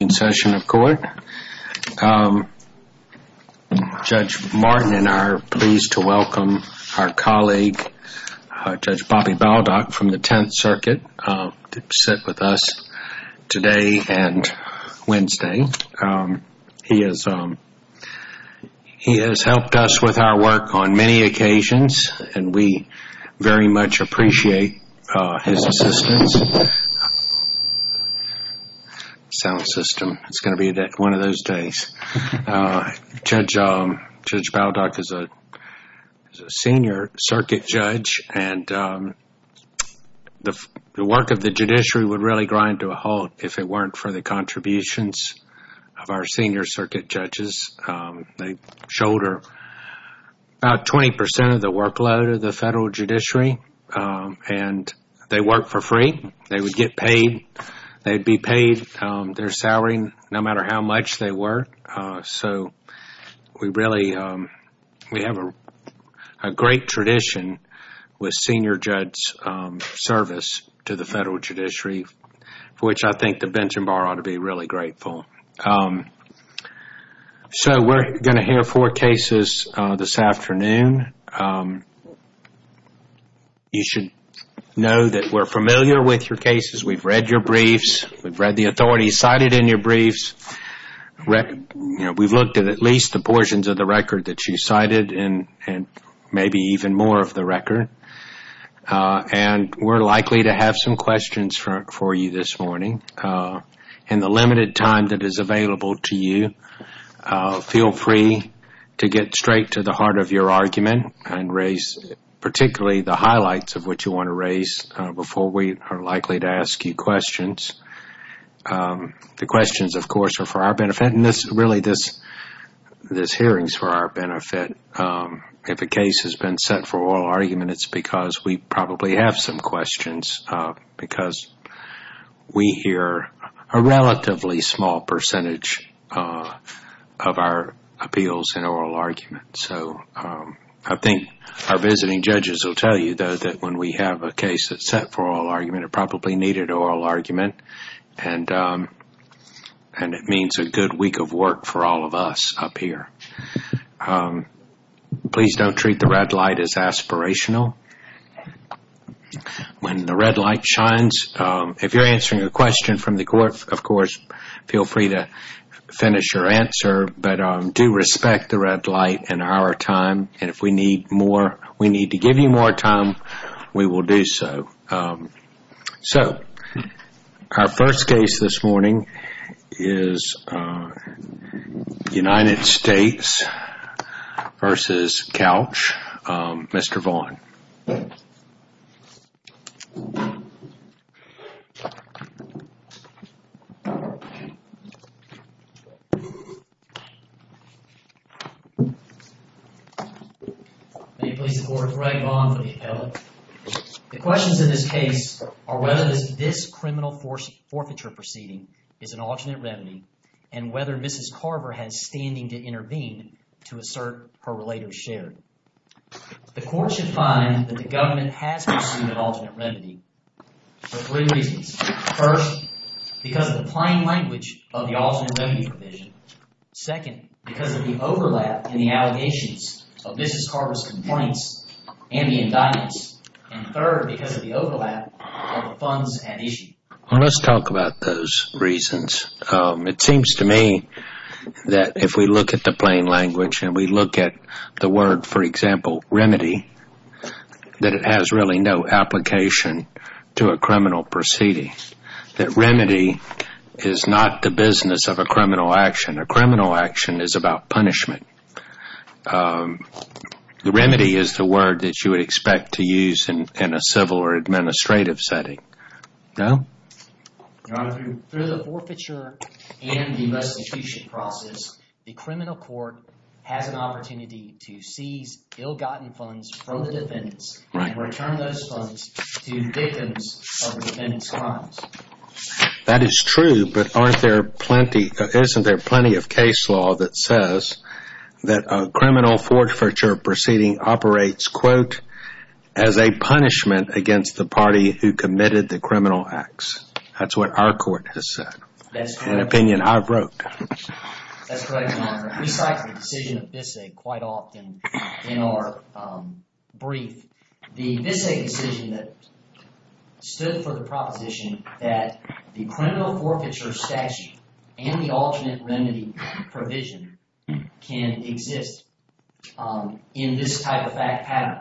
In session of court, Judge Martin and I are pleased to welcome our colleague Judge Bobby Baldock from the Tenth Circuit to sit with us today and Wednesday. He has helped us with the system. It's going to be one of those days. Judge Baldock is a senior circuit judge and the work of the judiciary would really grind to a halt if it weren't for the contributions of our senior circuit judges. They shoulder about 20% of the workload of the federal judiciary and they work for free. They would get paid. They'd be paid their salary no matter how much they work. We have a great tradition with senior judge service to the federal judiciary for which I think the Benton Bar ought to be really grateful. We're going to hear four cases this afternoon. You should know that we're familiar with your cases. We've read your briefs. We've read the authorities cited in your briefs. We've looked at at least the portions of the record that you cited and maybe even more of the record. We're likely to have some questions for you this morning. In the limited time that is available to you, feel free to get straight to the heart of your argument and raise particularly the highlights of what you want to raise before we are likely to ask you questions. The questions, of course, are for our benefit. Really, this hearing is for our benefit. If a case has been set for oral argument, it's because we probably have some questions because we hear a relatively small percentage of our appeals in oral argument. I think our visiting judges will tell you, though, that when we have a case that's set for oral argument, it probably needed oral argument. It means a good week of work for all of us up here. Please don't treat the red light as aspirational. When the red light shines, if you're answering a question from the court, of course, feel free to finish your answer, but do respect the red light and our time. If we need to give you more time, we will do so. So, our first case this morning is United States v. Couch. Mr. Vaughn. The questions in this case are whether this criminal forfeiture proceeding is an alternate remedy and whether Mrs. Carver has standing to intervene to assert her claim that the government has pursued an alternate remedy for three reasons. First, because of the plain language of the alternate remedy provision. Second, because of the overlap in the allegations of Mrs. Carver's complaints and the indictments. And third, because of the overlap of the funds at issue. Well, let's talk about those reasons. It seems to me that if we look at the plain language and we look at the for example, remedy, that it has really no application to a criminal proceeding. That remedy is not the business of a criminal action. A criminal action is about punishment. The remedy is the word that you would expect to use in a civil or administrative setting. No? Through the forfeiture and the restitution process, the criminal court has an opportunity to seize ill-gotten funds from the defendants and return those funds to victims of defendants' crimes. That is true, but aren't there plenty, isn't there plenty of case law that says that a criminal forfeiture proceeding operates quote, as a punishment against the party who committed the criminal acts? That's what our court has said. That's correct. An opinion I've wrote. That's correct, Your Honor. We cite the decision of Bisset quite often in our brief. The Bisset decision that stood for the proposition that the criminal forfeiture statute and the alternate remedy provision can exist in this type of fact pattern.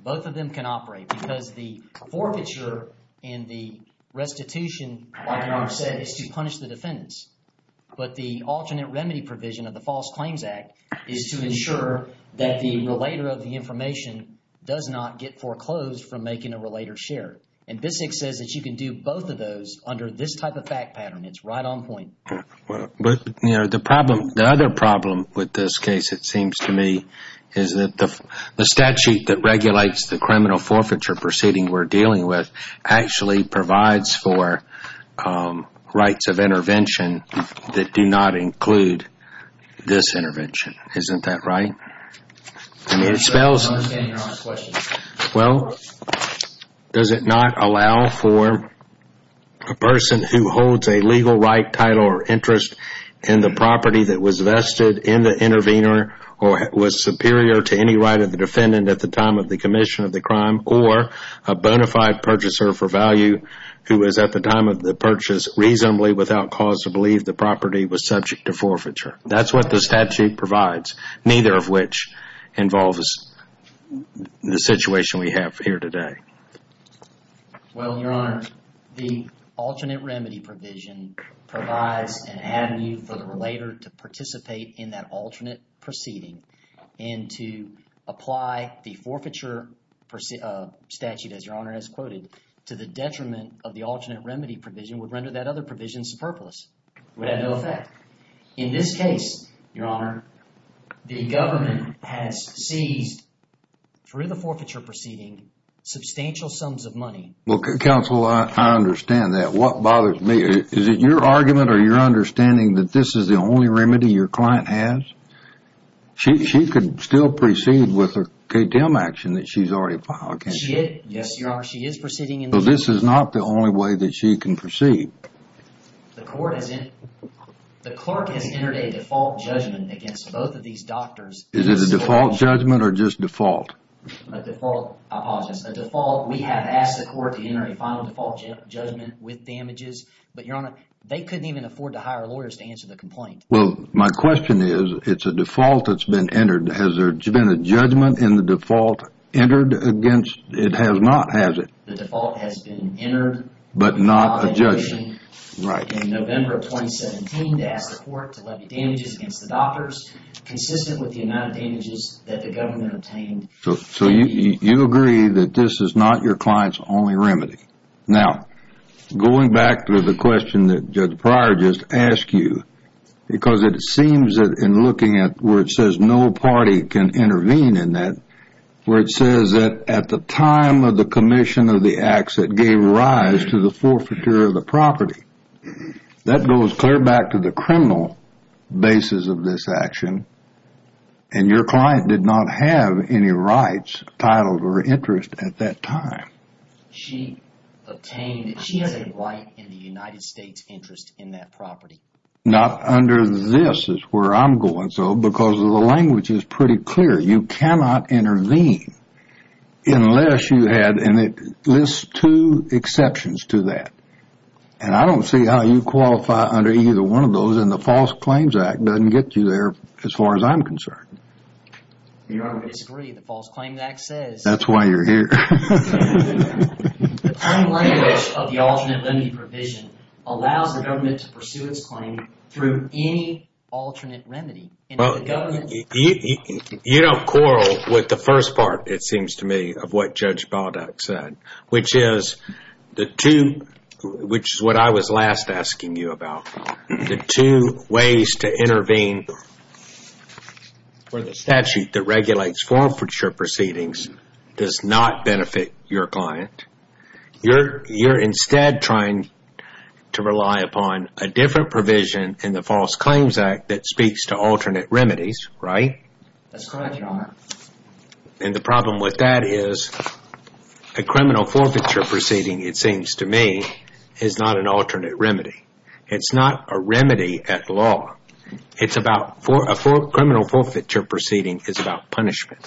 Both of them can operate because the forfeiture and the restitution, like Your Honor said, is to punish the defendants. But the alternate remedy provision of the False Claims Act is to ensure that the relator of the information does not get foreclosed from making a relator share. And Bisset says that you can do both of those under this type of fact pattern. It's right on point. But the problem, the other problem with this case, it seems to me, is that the statute that regulates the criminal forfeiture proceeding we're dealing with actually provides for rights of intervention that do not include this intervention. Isn't that right? I mean, it spells... I don't understand Your Honor's question. Well, does it not allow for a person who holds a legal right, title, or interest in the property that was vested in the intervener or was superior to any right of the defendant at the time of the commission of the crime or a bona fide purchaser for value who was at the time of the purchase reasonably without cause to believe the property was subject to forfeiture. That's what the which involves the situation we have here today. Well, Your Honor, the alternate remedy provision provides an avenue for the relator to participate in that alternate proceeding and to apply the forfeiture statute, as Your Honor has quoted, to the detriment of the alternate remedy provision would render that other case, Your Honor, the government has seized, through the forfeiture proceeding, substantial sums of money. Well, Counsel, I understand that. What bothers me, is it your argument or your understanding that this is the only remedy your client has? She could still proceed with a K-10 action that she's already filed, can't she? Yes, Your Honor, she is proceeding in this case. So this is not the only way that she can proceed. The court has entered a default judgment against both of these doctors. Is it a default judgment or just default? A default, I apologize, a default. We have asked the court to enter a final default judgment with damages. But, Your Honor, they couldn't even afford to hire lawyers to answer the complaint. Well, my question is, it's a default that's been entered. Has there been a judgment in the default entered against? It has not, has it? The default has been entered. But not a judgment. Right. In November of 2017, to ask the court to levy damages against the doctors, consistent with the amount of damages that the government obtained. So you agree that this is not your client's only remedy. Now, going back to the question that Judge Pryor just asked you, because it seems that in looking at where it says no party can intervene in that, where it says that at the time of the commission of the acts that gave rise to the forfeiture of the property, that goes clear back to the criminal basis of this action. And your client did not have any rights, title, or interest at that time. She obtained, she has a right in the United States interest in that property. Not under this is where I'm going, though, because the language is pretty clear. You cannot intervene unless you had, and it lists two exceptions to that. And I don't see how you qualify under either one of those, and the False Claims Act doesn't get you there as far as I'm concerned. Your Honor, we disagree. The False Claims Act says. That's why you're here. The plain language of the alternate remedy provision allows the government to pursue its claim through any alternate remedy. You don't quarrel with the first part, it seems to me, of what Judge Baldock said, which is the two, which is what I was last asking you about. The two ways to intervene for the statute that regulates forfeiture proceedings does not benefit your client. You're instead trying to rely upon a different provision in the False Claims Act that speaks to alternate remedies, right? That's correct, Your Honor. And the problem with that is a criminal forfeiture proceeding, it seems to me, is not an alternate remedy. It's not a remedy at law. It's about, a criminal forfeiture proceeding is about punishment.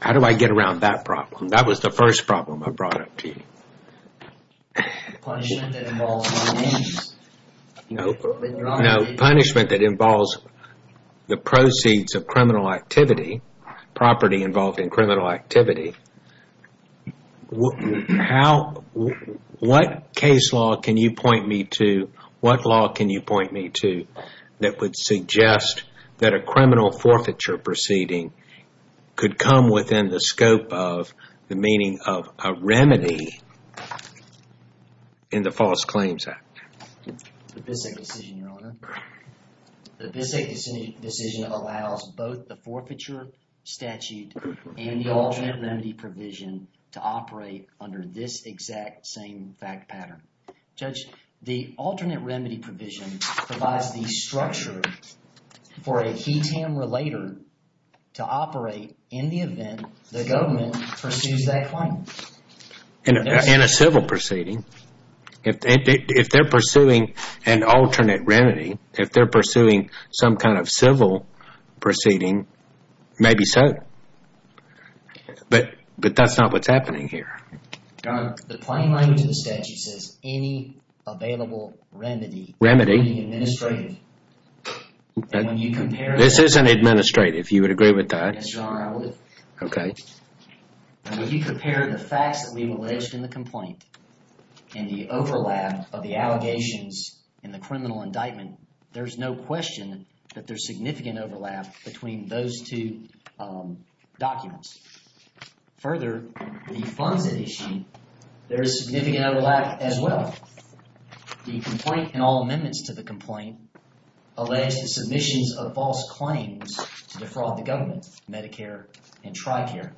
How do I get around that problem? That was the first problem I brought up to you. Punishment that involves money. No, punishment that involves the proceeds of criminal activity, property involved in criminal activity. What case law can you point me to, what law can you point me to that would suggest that a criminal forfeiture proceeding could come within the scope of the meaning of a remedy in the False Claims Act? The Bissette decision, Your Honor. The Bissette decision allows both the forfeiture statute and the alternate remedy provision to operate under this exact same fact pattern. Judge, the alternate remedy provision provides the structure for a he, him, or later to operate in the event the government pursues that claim. In a civil proceeding. If they're pursuing an alternate remedy, if they're pursuing some kind of civil proceeding, maybe so. But that's not what's happening here. Your Honor, the plain language of the statute says any available remedy can be administrative. This isn't administrative. You would agree with that? Yes, Your Honor, I would. Okay. Now, if you compare the facts that we've alleged in the complaint and the overlap of the allegations in the criminal indictment, there's no question that there's significant overlap between those two documents. Further, the Fonzette issue, there is significant overlap as well. The complaint and all amendments to the complaint allege the submissions of false claims to defraud the government, Medicare and TRICARE.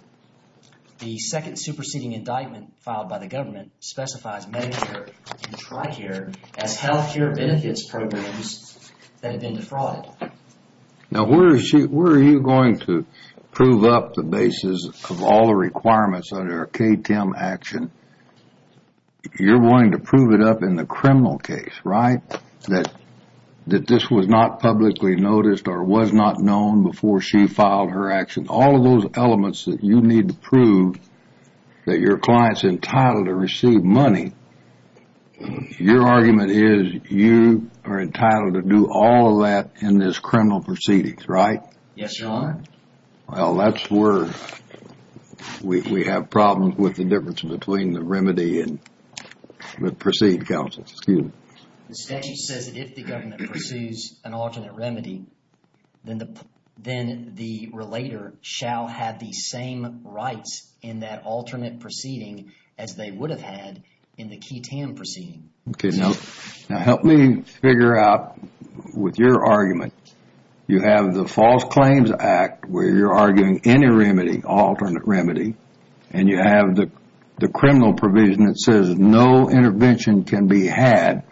The second superseding indictment filed by the government specifies Medicare and TRICARE as health care benefits programs that have been defrauded. Now, where are you going to prove up the basis of all the requirements under a K-10 action? Your Honor, you're wanting to prove it up in the criminal case, right? That this was not publicly noticed or was not known before she filed her action. All of those elements that you need to prove that your client's entitled to receive money, your argument is you are entitled to do all of that in this criminal proceeding, right? Yes, Your Honor. Well, that's where we have problems with the difference between the remedy and the proceed, counsel. Excuse me. The statute says that if the government pursues an alternate remedy, then the relator shall have the same rights in that alternate proceeding as they would have had in the K-10 proceeding. Okay, now help me figure out with your argument, you have the False Claims Act where you're arguing any remedy, alternate remedy, and you have the criminal provision that says no intervention can be had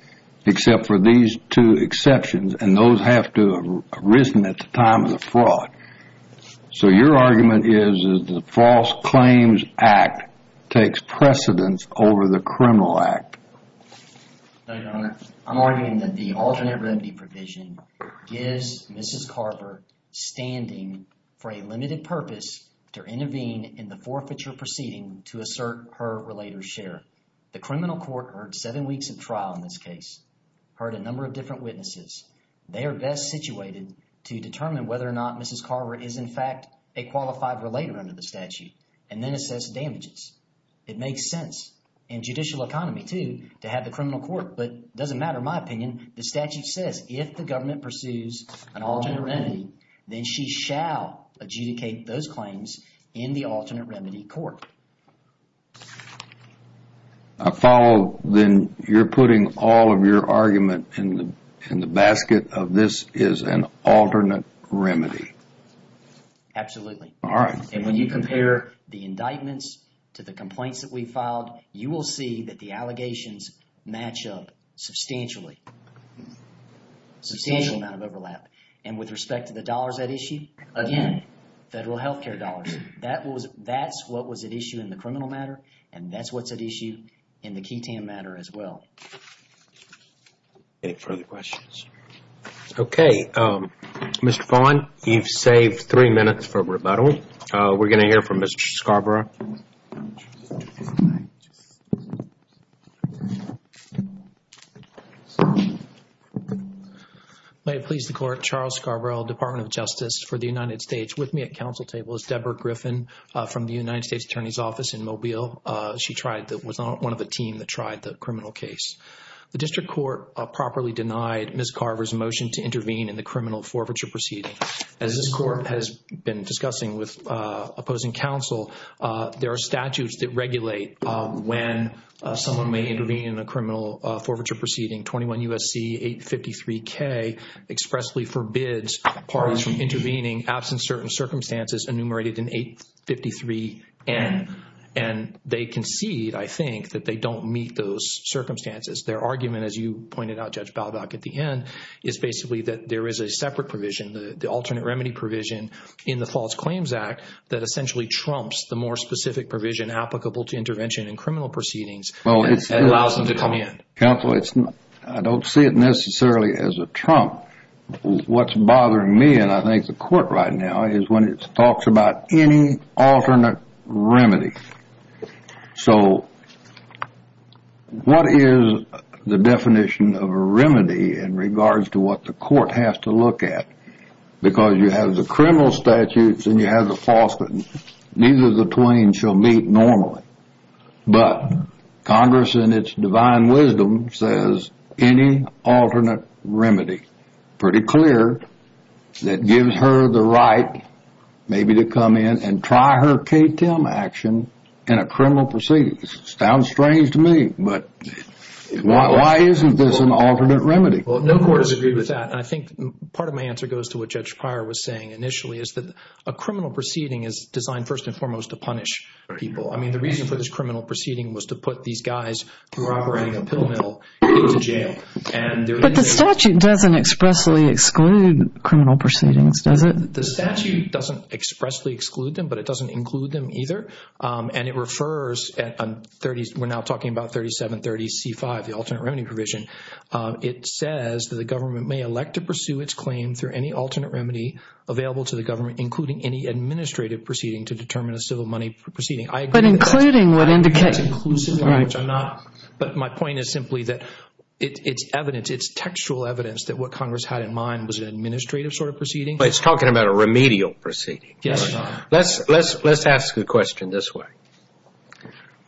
except for these two exceptions, and those have to have arisen at the time of the fraud. So your argument is that the False Claims Act takes precedence over the criminal act. No, Your Honor. I'm arguing that the alternate remedy provision gives Mrs. Carver standing for a limited purpose to intervene in the forfeiture proceeding to assert her relator's share. The criminal court heard seven weeks of trial in this case, heard a number of different witnesses. They are best situated to determine whether or not Mrs. Carver is in fact a qualified relator under the statute and then assess damages. It makes sense in judicial economy too to have the criminal court, but it doesn't matter my opinion. The statute says if the government pursues an alternate remedy, then she shall adjudicate those claims in the alternate remedy court. I follow then you're putting all of your argument in the basket of this is an alternate remedy. Absolutely. All right. And when you compare the indictments to the complaints that we filed, you will see that the allegations match up substantially. Substantial amount of overlap. And with respect to the dollars at issue, again, federal health care dollars. That was that's what was at issue in the criminal matter. And that's what's at issue in the Ketan matter as well. Any further questions? Okay. Mr. Vaughn, you've saved three minutes for rebuttal. We're going to hear from Mr. Scarborough. May it please the court. Charles Scarborough, Department of Justice for the United States. With me at council table is Deborah Griffin from the United States Attorney's Office in Mobile. She was on one of the team that tried the criminal case. The district court properly denied Ms. Carver's motion to intervene in the criminal forfeiture proceeding. As this court has been discussing with opposing counsel, there are statutes that regulate when someone may intervene in a criminal forfeiture proceeding. 21 U.S.C. 853K expressly forbids parties from intervening absent certain circumstances enumerated in 853N. And they concede, I think, that they don't meet those circumstances. Their argument, as you pointed out, Judge Baldock, at the end, is basically that there is a separate provision, the alternate remedy provision, in the False Claims Act that essentially trumps the more specific provision applicable to intervention in criminal proceedings that allows them to come in. Counsel, I don't see it necessarily as a trump. What's bothering me, and I think the court right now, is when it talks about any alternate remedy. So what is the definition of a remedy in regards to what the court has to look at? Because you have the criminal statutes and you have the false claims, neither of the twain shall meet normally. But Congress, in its divine wisdom, says any alternate remedy, pretty clear, that gives her the right maybe to come in and try her K-10 action in a criminal proceeding. Sounds strange to me, but why isn't this an alternate remedy? Well, no court has agreed with that. And I think part of my answer goes to what Judge Pryor was saying initially, is that a criminal proceeding is designed first and foremost to punish people. I mean, the reason for this criminal proceeding was to put these guys who were operating a pill mill into jail. But the statute doesn't expressly exclude criminal proceedings, does it? The statute doesn't expressly exclude them, but it doesn't include them either. And it refers, we're now talking about 3730C5, the alternate remedy provision. It says that the government may elect to pursue its claim through any alternate remedy available to the government, including any administrative proceeding to determine a civil money proceeding. But including would indicate. But my point is simply that it's evidence. It's textual evidence that what Congress had in mind was an administrative sort of proceeding. It's talking about a remedial proceeding. Yes. Let's ask the question this way.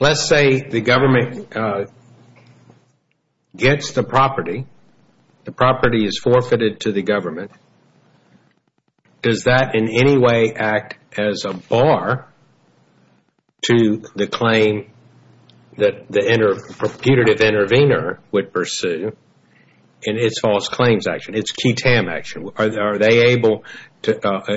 Let's say the government gets the property. The property is forfeited to the government. Does that in any way act as a bar to the claim that the putative intervener would pursue? And it's false claims action. It's QTAM action. Are they able to,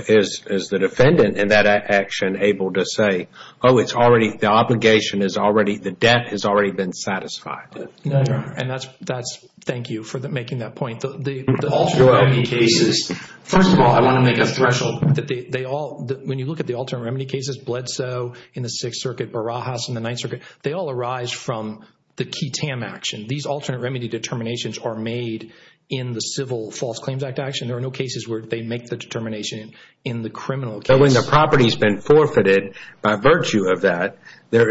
is the defendant in that action able to say, oh, it's already, the obligation is already, the debt has already been satisfied? And that's, thank you for making that point. The alternate remedy cases, first of all, I want to make a threshold. They all, when you look at the alternate remedy cases, Bledsoe in the Sixth Circuit, Barajas in the Ninth Circuit, they all arise from the QTAM action. These alternate remedy determinations are made in the Civil False Claims Act action. There are no cases where they make the determination in the criminal case. But when the property has been forfeited by virtue of that, there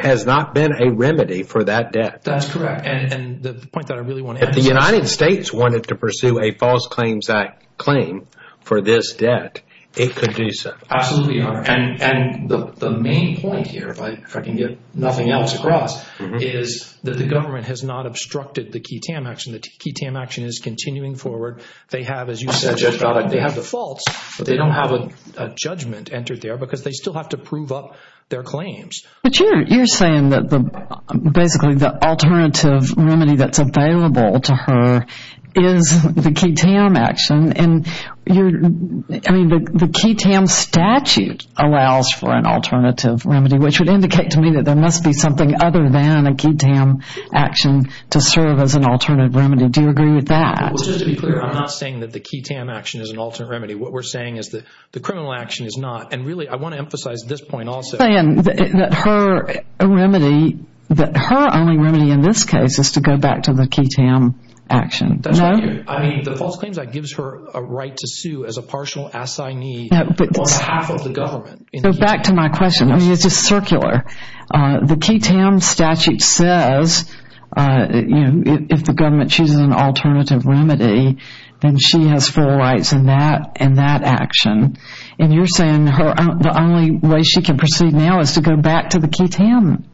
has not been a remedy for that debt. That's correct. And the point that I really want to emphasize. If the United States wanted to pursue a False Claims Act claim for this debt, it could do so. Absolutely, Your Honor. And the main point here, if I can get nothing else across, is that the government has not obstructed the QTAM action. The QTAM action is continuing forward. They have, as you said, they have the faults, but they don't have a judgment entered there because they still have to prove up their claims. But you're saying that basically the alternative remedy that's available to her is the QTAM action. I mean, the QTAM statute allows for an alternative remedy, which would indicate to me that there must be something other than a QTAM action to serve as an alternative remedy. Do you agree with that? Well, just to be clear, I'm not saying that the QTAM action is an alternate remedy. What we're saying is that the criminal action is not. And really, I want to emphasize this point also. You're saying that her remedy, that her only remedy in this case is to go back to the QTAM action. No? I mean, the False Claims Act gives her a right to sue as a partial assignee on behalf of the government. So back to my question. I mean, it's just circular. The QTAM statute says, you know, if the government chooses an alternative remedy, then she has full rights in that action. And you're saying the only way she can proceed now is to go back to the QTAM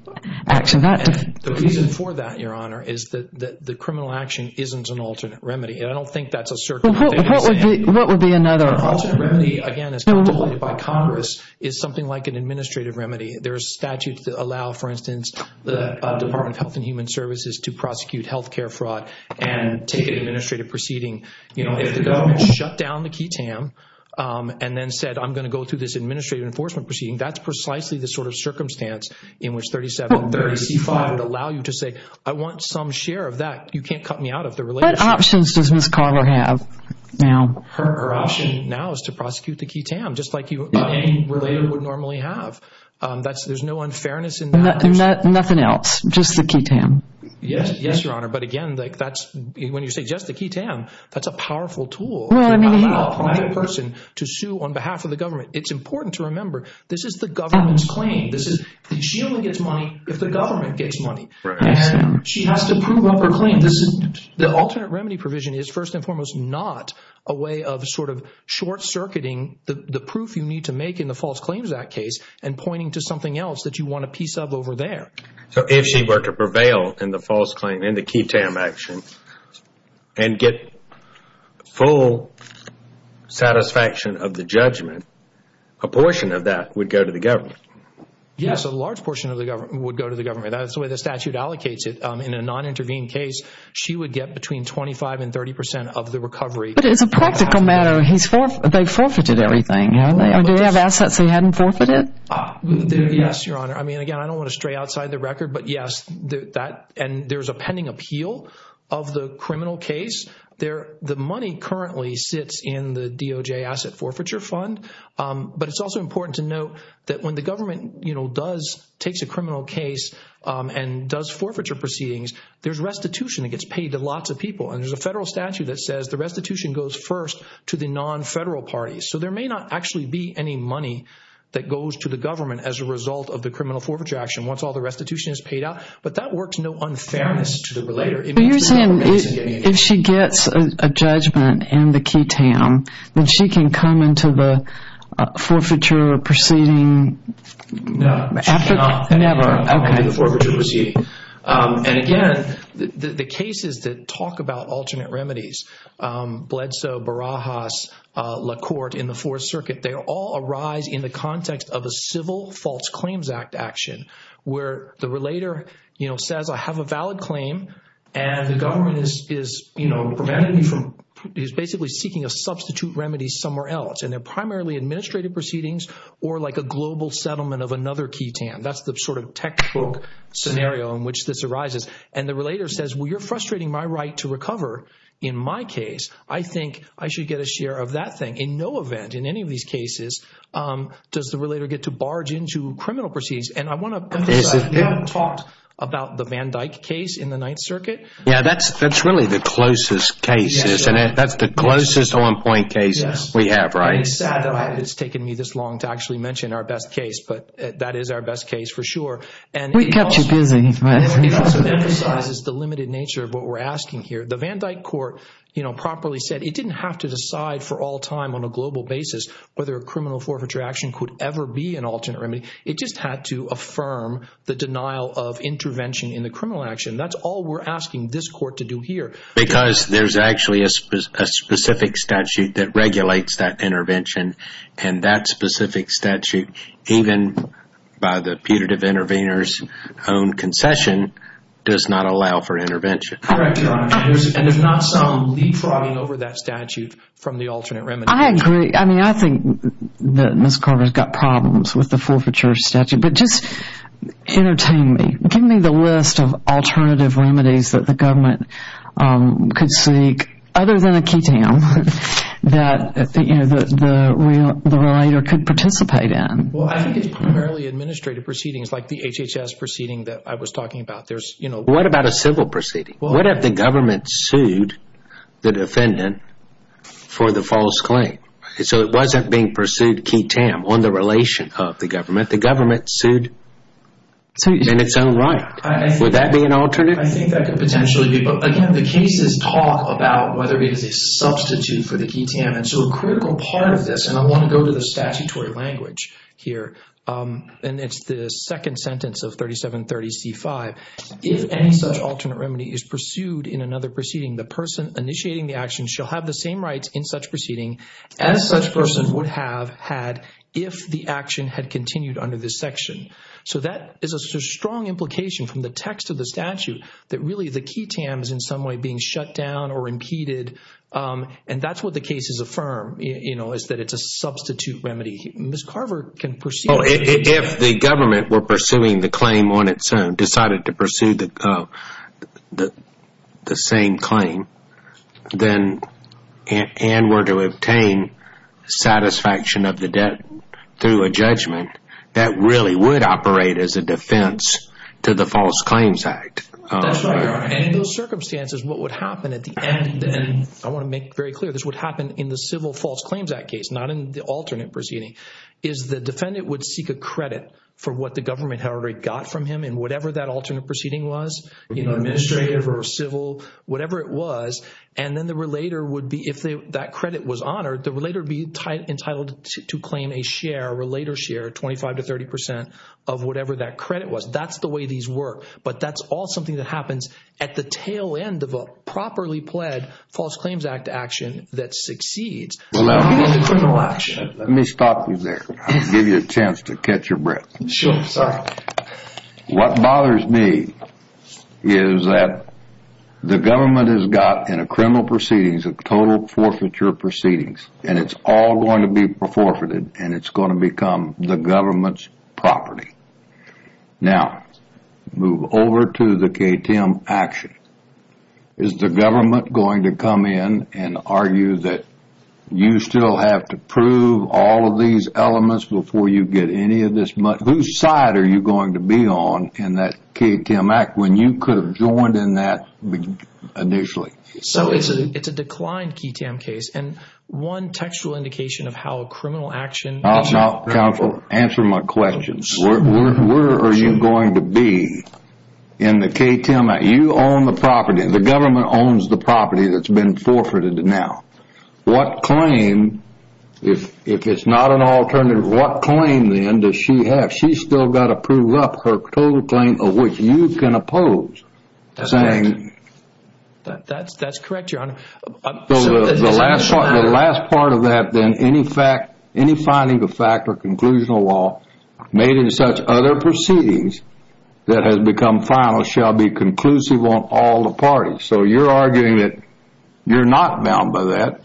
action. The reason for that, Your Honor, is that the criminal action isn't an alternate remedy. And I don't think that's a circular thing to say. What would be another? An alternate remedy, again, as contemplated by Congress, is something like an administrative remedy. There are statutes that allow, for instance, the Department of Health and Human Services to prosecute health care fraud and take an administrative proceeding. You know, if the government shut down the QTAM and then said, I'm going to go through this administrative enforcement proceeding, that's precisely the sort of circumstance in which 3735 would allow you to say, I want some share of that. You can't cut me out of the relationship. What options does Ms. Carver have now? Her option now is to prosecute the QTAM, just like you would normally have. There's no unfairness in that. Yes, Your Honor. But again, when you say just the QTAM, that's a powerful tool to have another person to sue on behalf of the government. It's important to remember, this is the government's claim. She only gets money if the government gets money. And she has to prove up her claim. The alternate remedy provision is, first and foremost, not a way of sort of short-circuiting the proof you need to make in the False Claims Act case and pointing to something else that you want a piece of over there. So if she were to prevail in the False Claim and the QTAM action and get full satisfaction of the judgment, a portion of that would go to the government? Yes, a large portion would go to the government. That's the way the statute allocates it. In a non-intervened case, she would get between 25 and 30 percent of the recovery. But it's a practical matter. They forfeited everything, didn't they? Yes, Your Honor. I mean, again, I don't want to stray outside the record. But, yes, there's a pending appeal of the criminal case. The money currently sits in the DOJ Asset Forfeiture Fund. But it's also important to note that when the government takes a criminal case and does forfeiture proceedings, there's restitution that gets paid to lots of people. And there's a federal statute that says the restitution goes first to the non-federal parties. So there may not actually be any money that goes to the government as a result of the criminal forfeiture action once all the restitution is paid out. But that works no unfairness to the relator. So you're saying if she gets a judgment in the QTAM, then she can come into the forfeiture proceeding? No, she cannot come into the forfeiture proceeding. And, again, the cases that talk about alternate remedies, Bledsoe, Barajas, LaCourte in the Fourth Circuit, they all arise in the context of a Civil False Claims Act action where the relator says, I have a valid claim and the government is basically seeking a substitute remedy somewhere else. And they're primarily administrative proceedings or like a global settlement of another QTAM. That's the sort of textbook scenario in which this arises. And the relator says, well, you're frustrating my right to recover in my case. I think I should get a share of that thing. In no event in any of these cases does the relator get to barge into criminal proceedings. And I want to emphasize, you haven't talked about the Van Dyck case in the Ninth Circuit. Yeah, that's really the closest case, isn't it? That's the closest on-point case we have, right? It's sad that it's taken me this long to actually mention our best case, but that is our best case for sure. We kept you busy. It also emphasizes the limited nature of what we're asking here. The Van Dyck court properly said it didn't have to decide for all time on a global basis whether a criminal forfeiture action could ever be an alternate remedy. It just had to affirm the denial of intervention in the criminal action. That's all we're asking this court to do here. Because there's actually a specific statute that regulates that intervention, and that specific statute, even by the putative intervener's own concession, does not allow for intervention. Correct, Your Honor. And there's not some leapfrogging over that statute from the alternate remedy. I agree. I mean, I think that Ms. Carter's got problems with the forfeiture statute. But just entertain me. Give me the list of alternative remedies that the government could seek other than a ketamine that the relator could participate in. Well, I think it's primarily administrative proceedings like the HHS proceeding that I was talking about. What about a civil proceeding? What if the government sued the defendant for the false claim? So it wasn't being pursued ketamine on the relation of the government. The government sued in its own right. Would that be an alternate? I think that could potentially be. Again, the cases talk about whether it is a substitute for the ketamine. So a critical part of this, and I want to go to the statutory language here, and it's the second sentence of 3730C5. If any such alternate remedy is pursued in another proceeding, the person initiating the action shall have the same rights in such proceeding as such person would have had if the action had continued under this section. So that is a strong implication from the text of the statute that really the ketamine is in some way being shut down or impeded, and that's what the cases affirm, is that it's a substitute remedy. Ms. Carver can proceed. If the government were pursuing the claim on its own, decided to pursue the same claim, and were to obtain satisfaction of the debt through a judgment, that really would operate as a defense to the False Claims Act. In those circumstances, what would happen at the end, and I want to make very clear, this would happen in the Civil False Claims Act case, not in the alternate proceeding, is the defendant would seek a credit for what the government had already got from him in whatever that alternate proceeding was, administrative or civil, whatever it was, and then the relater would be, if that credit was honored, the relater would be entitled to claim a share, a relater share, 25 to 30 percent of whatever that credit was. That's the way these work, but that's all something that happens at the tail end of a properly pled False Claims Act action that succeeds. Let me stop you there. I'll give you a chance to catch your breath. Sure, sorry. What bothers me is that the government has got, in a criminal proceedings, a total forfeiture proceedings, and it's all going to be forfeited, and it's going to become the government's property. Now, move over to the KTM action. Is the government going to come in and argue that you still have to prove all of these elements before you get any of this money? Whose side are you going to be on in that KTM Act when you could have joined in that initially? So it's a declined KTM case, and one textual indication of how a criminal action is not credible. Answer my question. Where are you going to be in the KTM Act? You own the property. The government owns the property that's been forfeited now. What claim, if it's not an alternative, what claim then does she have? She's still got to prove up her total claim of which you can oppose. That's correct, Your Honor. The last part of that then, any finding of fact or conclusional law made in such other proceedings that has become final shall be conclusive on all the parties. So you're arguing that you're not bound by that.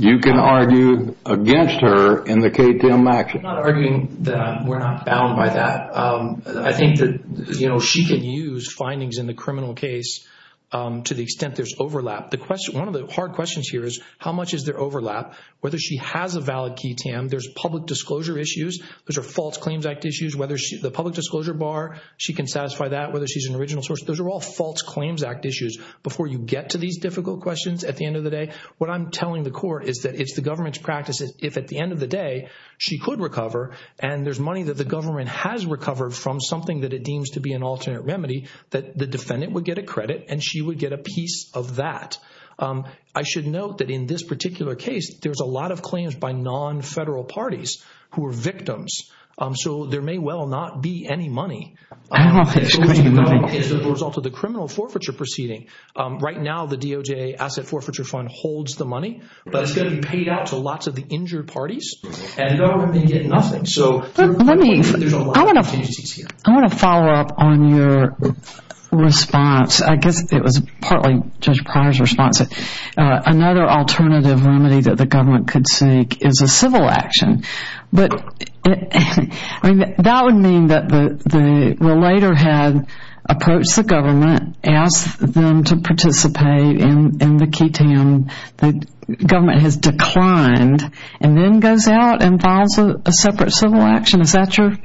You can argue against her in the KTM action. I'm not arguing that we're not bound by that. I think that she can use findings in the criminal case to the extent there's overlap. One of the hard questions here is how much is there overlap, whether she has a valid KTM. There's public disclosure issues. Those are False Claims Act issues. The public disclosure bar, she can satisfy that, whether she's an original source. Those are all False Claims Act issues. Before you get to these difficult questions at the end of the day, what I'm telling the court is that it's the government's practice that if at the end of the day she could recover and there's money that the government has recovered from something that it deems to be an alternate remedy, that the defendant would get a credit and she would get a piece of that. I should note that in this particular case, there's a lot of claims by non-federal parties who are victims. So there may well not be any money. I don't think there's going to be money. It's the result of the criminal forfeiture proceeding. Right now, the DOJ Asset Forfeiture Fund holds the money, but it's going to be paid out to lots of the injured parties and the government may get nothing. So there's a lot of opportunities here. I want to follow up on your response. I guess it was partly Judge Pryor's response. Another alternative remedy that the government could seek is a civil action. That would mean that the relator had approached the government, asked them to participate in the QTAM. The government has declined and then goes out and files a separate civil action. Is that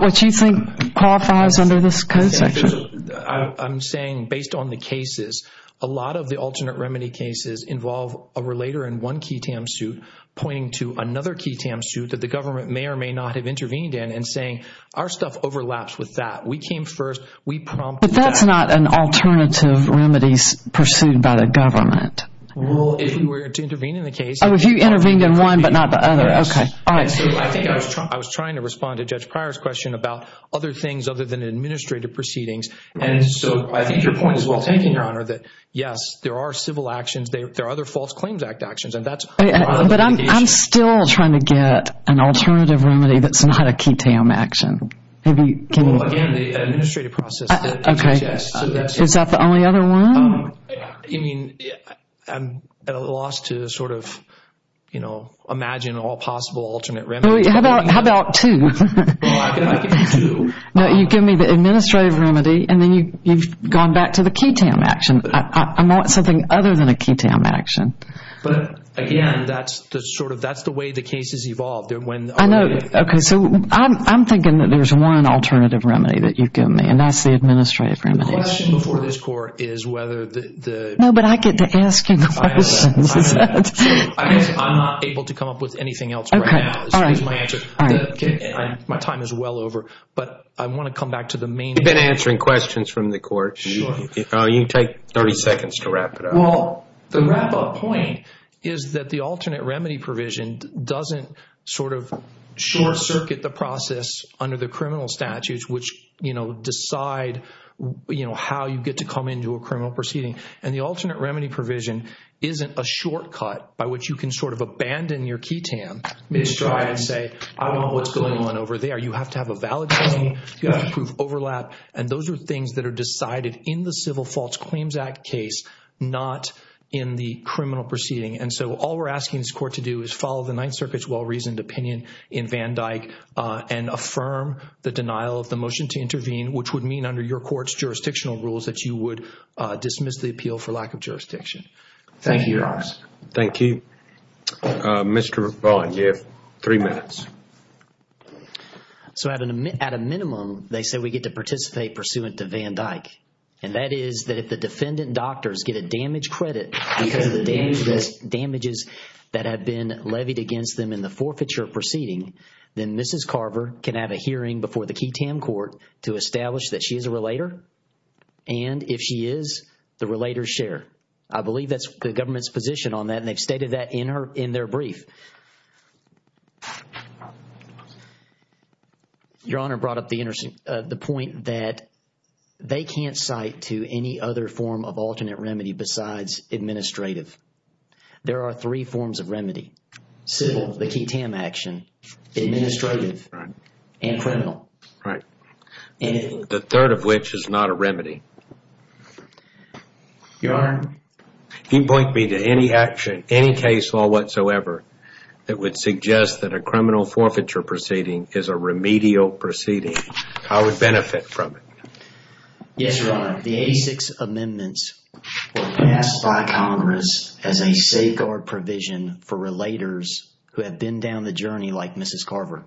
what you think qualifies under this code section? I'm saying based on the cases, a lot of the alternate remedy cases involve a relator in one QTAM suit pointing to another QTAM suit that the government may or may not have intervened in and saying our stuff overlaps with that. We came first. We prompted that. But that's not an alternative remedy pursued by the government. Well, if you were to intervene in the case. Oh, if you intervened in one but not the other. Okay. All right. I was trying to respond to Judge Pryor's question about other things other than administrative proceedings. And so I think your point is well taken, Your Honor, that, yes, there are civil actions. There are other false claims act actions. But I'm still trying to get an alternative remedy that's not a QTAM action. Well, again, the administrative process. Okay. Is that the only other one? I mean, I'm at a loss to sort of, you know, imagine all possible alternate remedies. How about two? Well, I can give you two. No, you give me the administrative remedy and then you've gone back to the QTAM action. I want something other than a QTAM action. But, again, that's the sort of way the case has evolved. I know. Okay. So I'm thinking that there's one alternative remedy that you've given me, and that's the administrative remedy. The question before this Court is whether the – No, but I get to ask you questions. I have that. I'm not able to come up with anything else right now. Okay. All right. My time is well over. But I want to come back to the main – You've been answering questions from the Court. Sure. You take 30 seconds to wrap it up. Well, the wrap-up point is that the alternate remedy provision doesn't sort of short-circuit the process under the criminal statutes, which, you know, decide, you know, how you get to come into a criminal proceeding. And the alternate remedy provision isn't a shortcut by which you can sort of abandon your QTAM and say, I don't know what's going on over there. You have to have a valid claim. You have to prove overlap. And those are things that are decided in the Civil Faults Claims Act case, not in the criminal proceeding. And so all we're asking this Court to do is follow the Ninth Circuit's well-reasoned opinion in Van Dyke and affirm the denial of the motion to intervene, which would mean under your Court's jurisdictional rules that you would dismiss the appeal for lack of jurisdiction. Thank you, Alex. Thank you. Mr. Vaughan, you have three minutes. So at a minimum, they say we get to participate pursuant to Van Dyke. And that is that if the defendant doctors get a damage credit because of the damages that have been levied against them in the forfeiture proceeding, then Mrs. Carver can have a hearing before the QTAM Court to establish that she is a relator. And if she is, the relators share. I believe that's the government's position on that, and they've stated that in their brief. Your Honor brought up the point that they can't cite to any other form of alternate remedy besides administrative. There are three forms of remedy, civil, the QTAM action, administrative, and criminal. Right. The third of which is not a remedy. Your Honor, you point me to any action, any case law whatsoever, that would suggest that a criminal forfeiture proceeding is a remedial proceeding. I would benefit from it. Yes, Your Honor. The 86 amendments were passed by Congress as a safeguard provision for relators who have been down the journey like Mrs. Carver.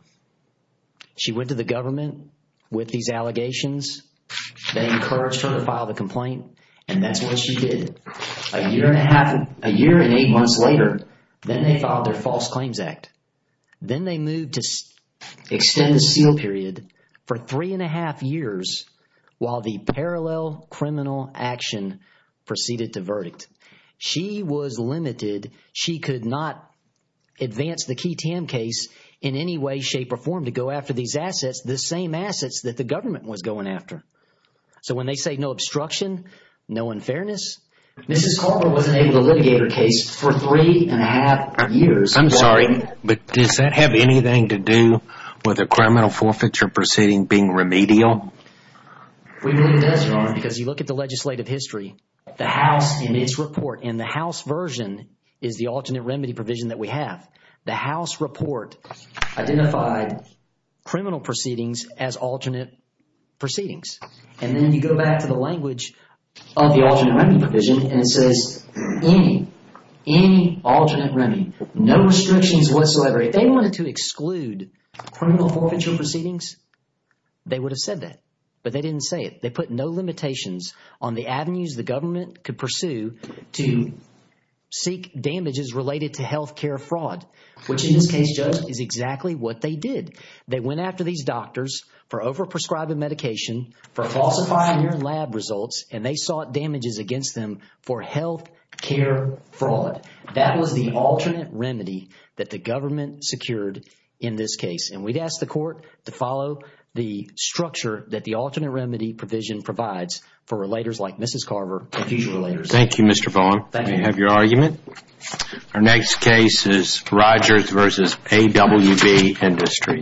She went to the government with these allegations. They encouraged her to file the complaint, and that's what she did. A year and eight months later, then they filed their False Claims Act. Then they moved to extend the seal period for three and a half years while the parallel criminal action proceeded to verdict. She was limited. She could not advance the QTAM case in any way, shape, or form to go after these assets, the same assets that the government was going after. So when they say no obstruction, no unfairness, Mrs. Carver wasn't able to litigate her case for three and a half years. I'm sorry, but does that have anything to do with a criminal forfeiture proceeding being remedial? We believe it does, Your Honor, because you look at the legislative history. The House in its report, and the House version is the alternate remedy provision that we have. The House report identified criminal proceedings as alternate proceedings. And then you go back to the language of the alternate remedy provision, and it says any, any alternate remedy, no restrictions whatsoever. If they wanted to exclude criminal forfeiture proceedings, they would have said that, but they didn't say it. They put no limitations on the avenues the government could pursue to seek damages related to health care fraud, which in this case, Judge, is exactly what they did. They went after these doctors for overprescribing medication, for falsifying their lab results, and they sought damages against them for health care fraud. That was the alternate remedy that the government secured in this case. And we'd ask the court to follow the structure that the alternate remedy provision provides for relators like Mrs. Carver and future relators. Thank you, Mr. Bowen. Thank you. We have your argument. Our next case is Rogers v. AWB Industries.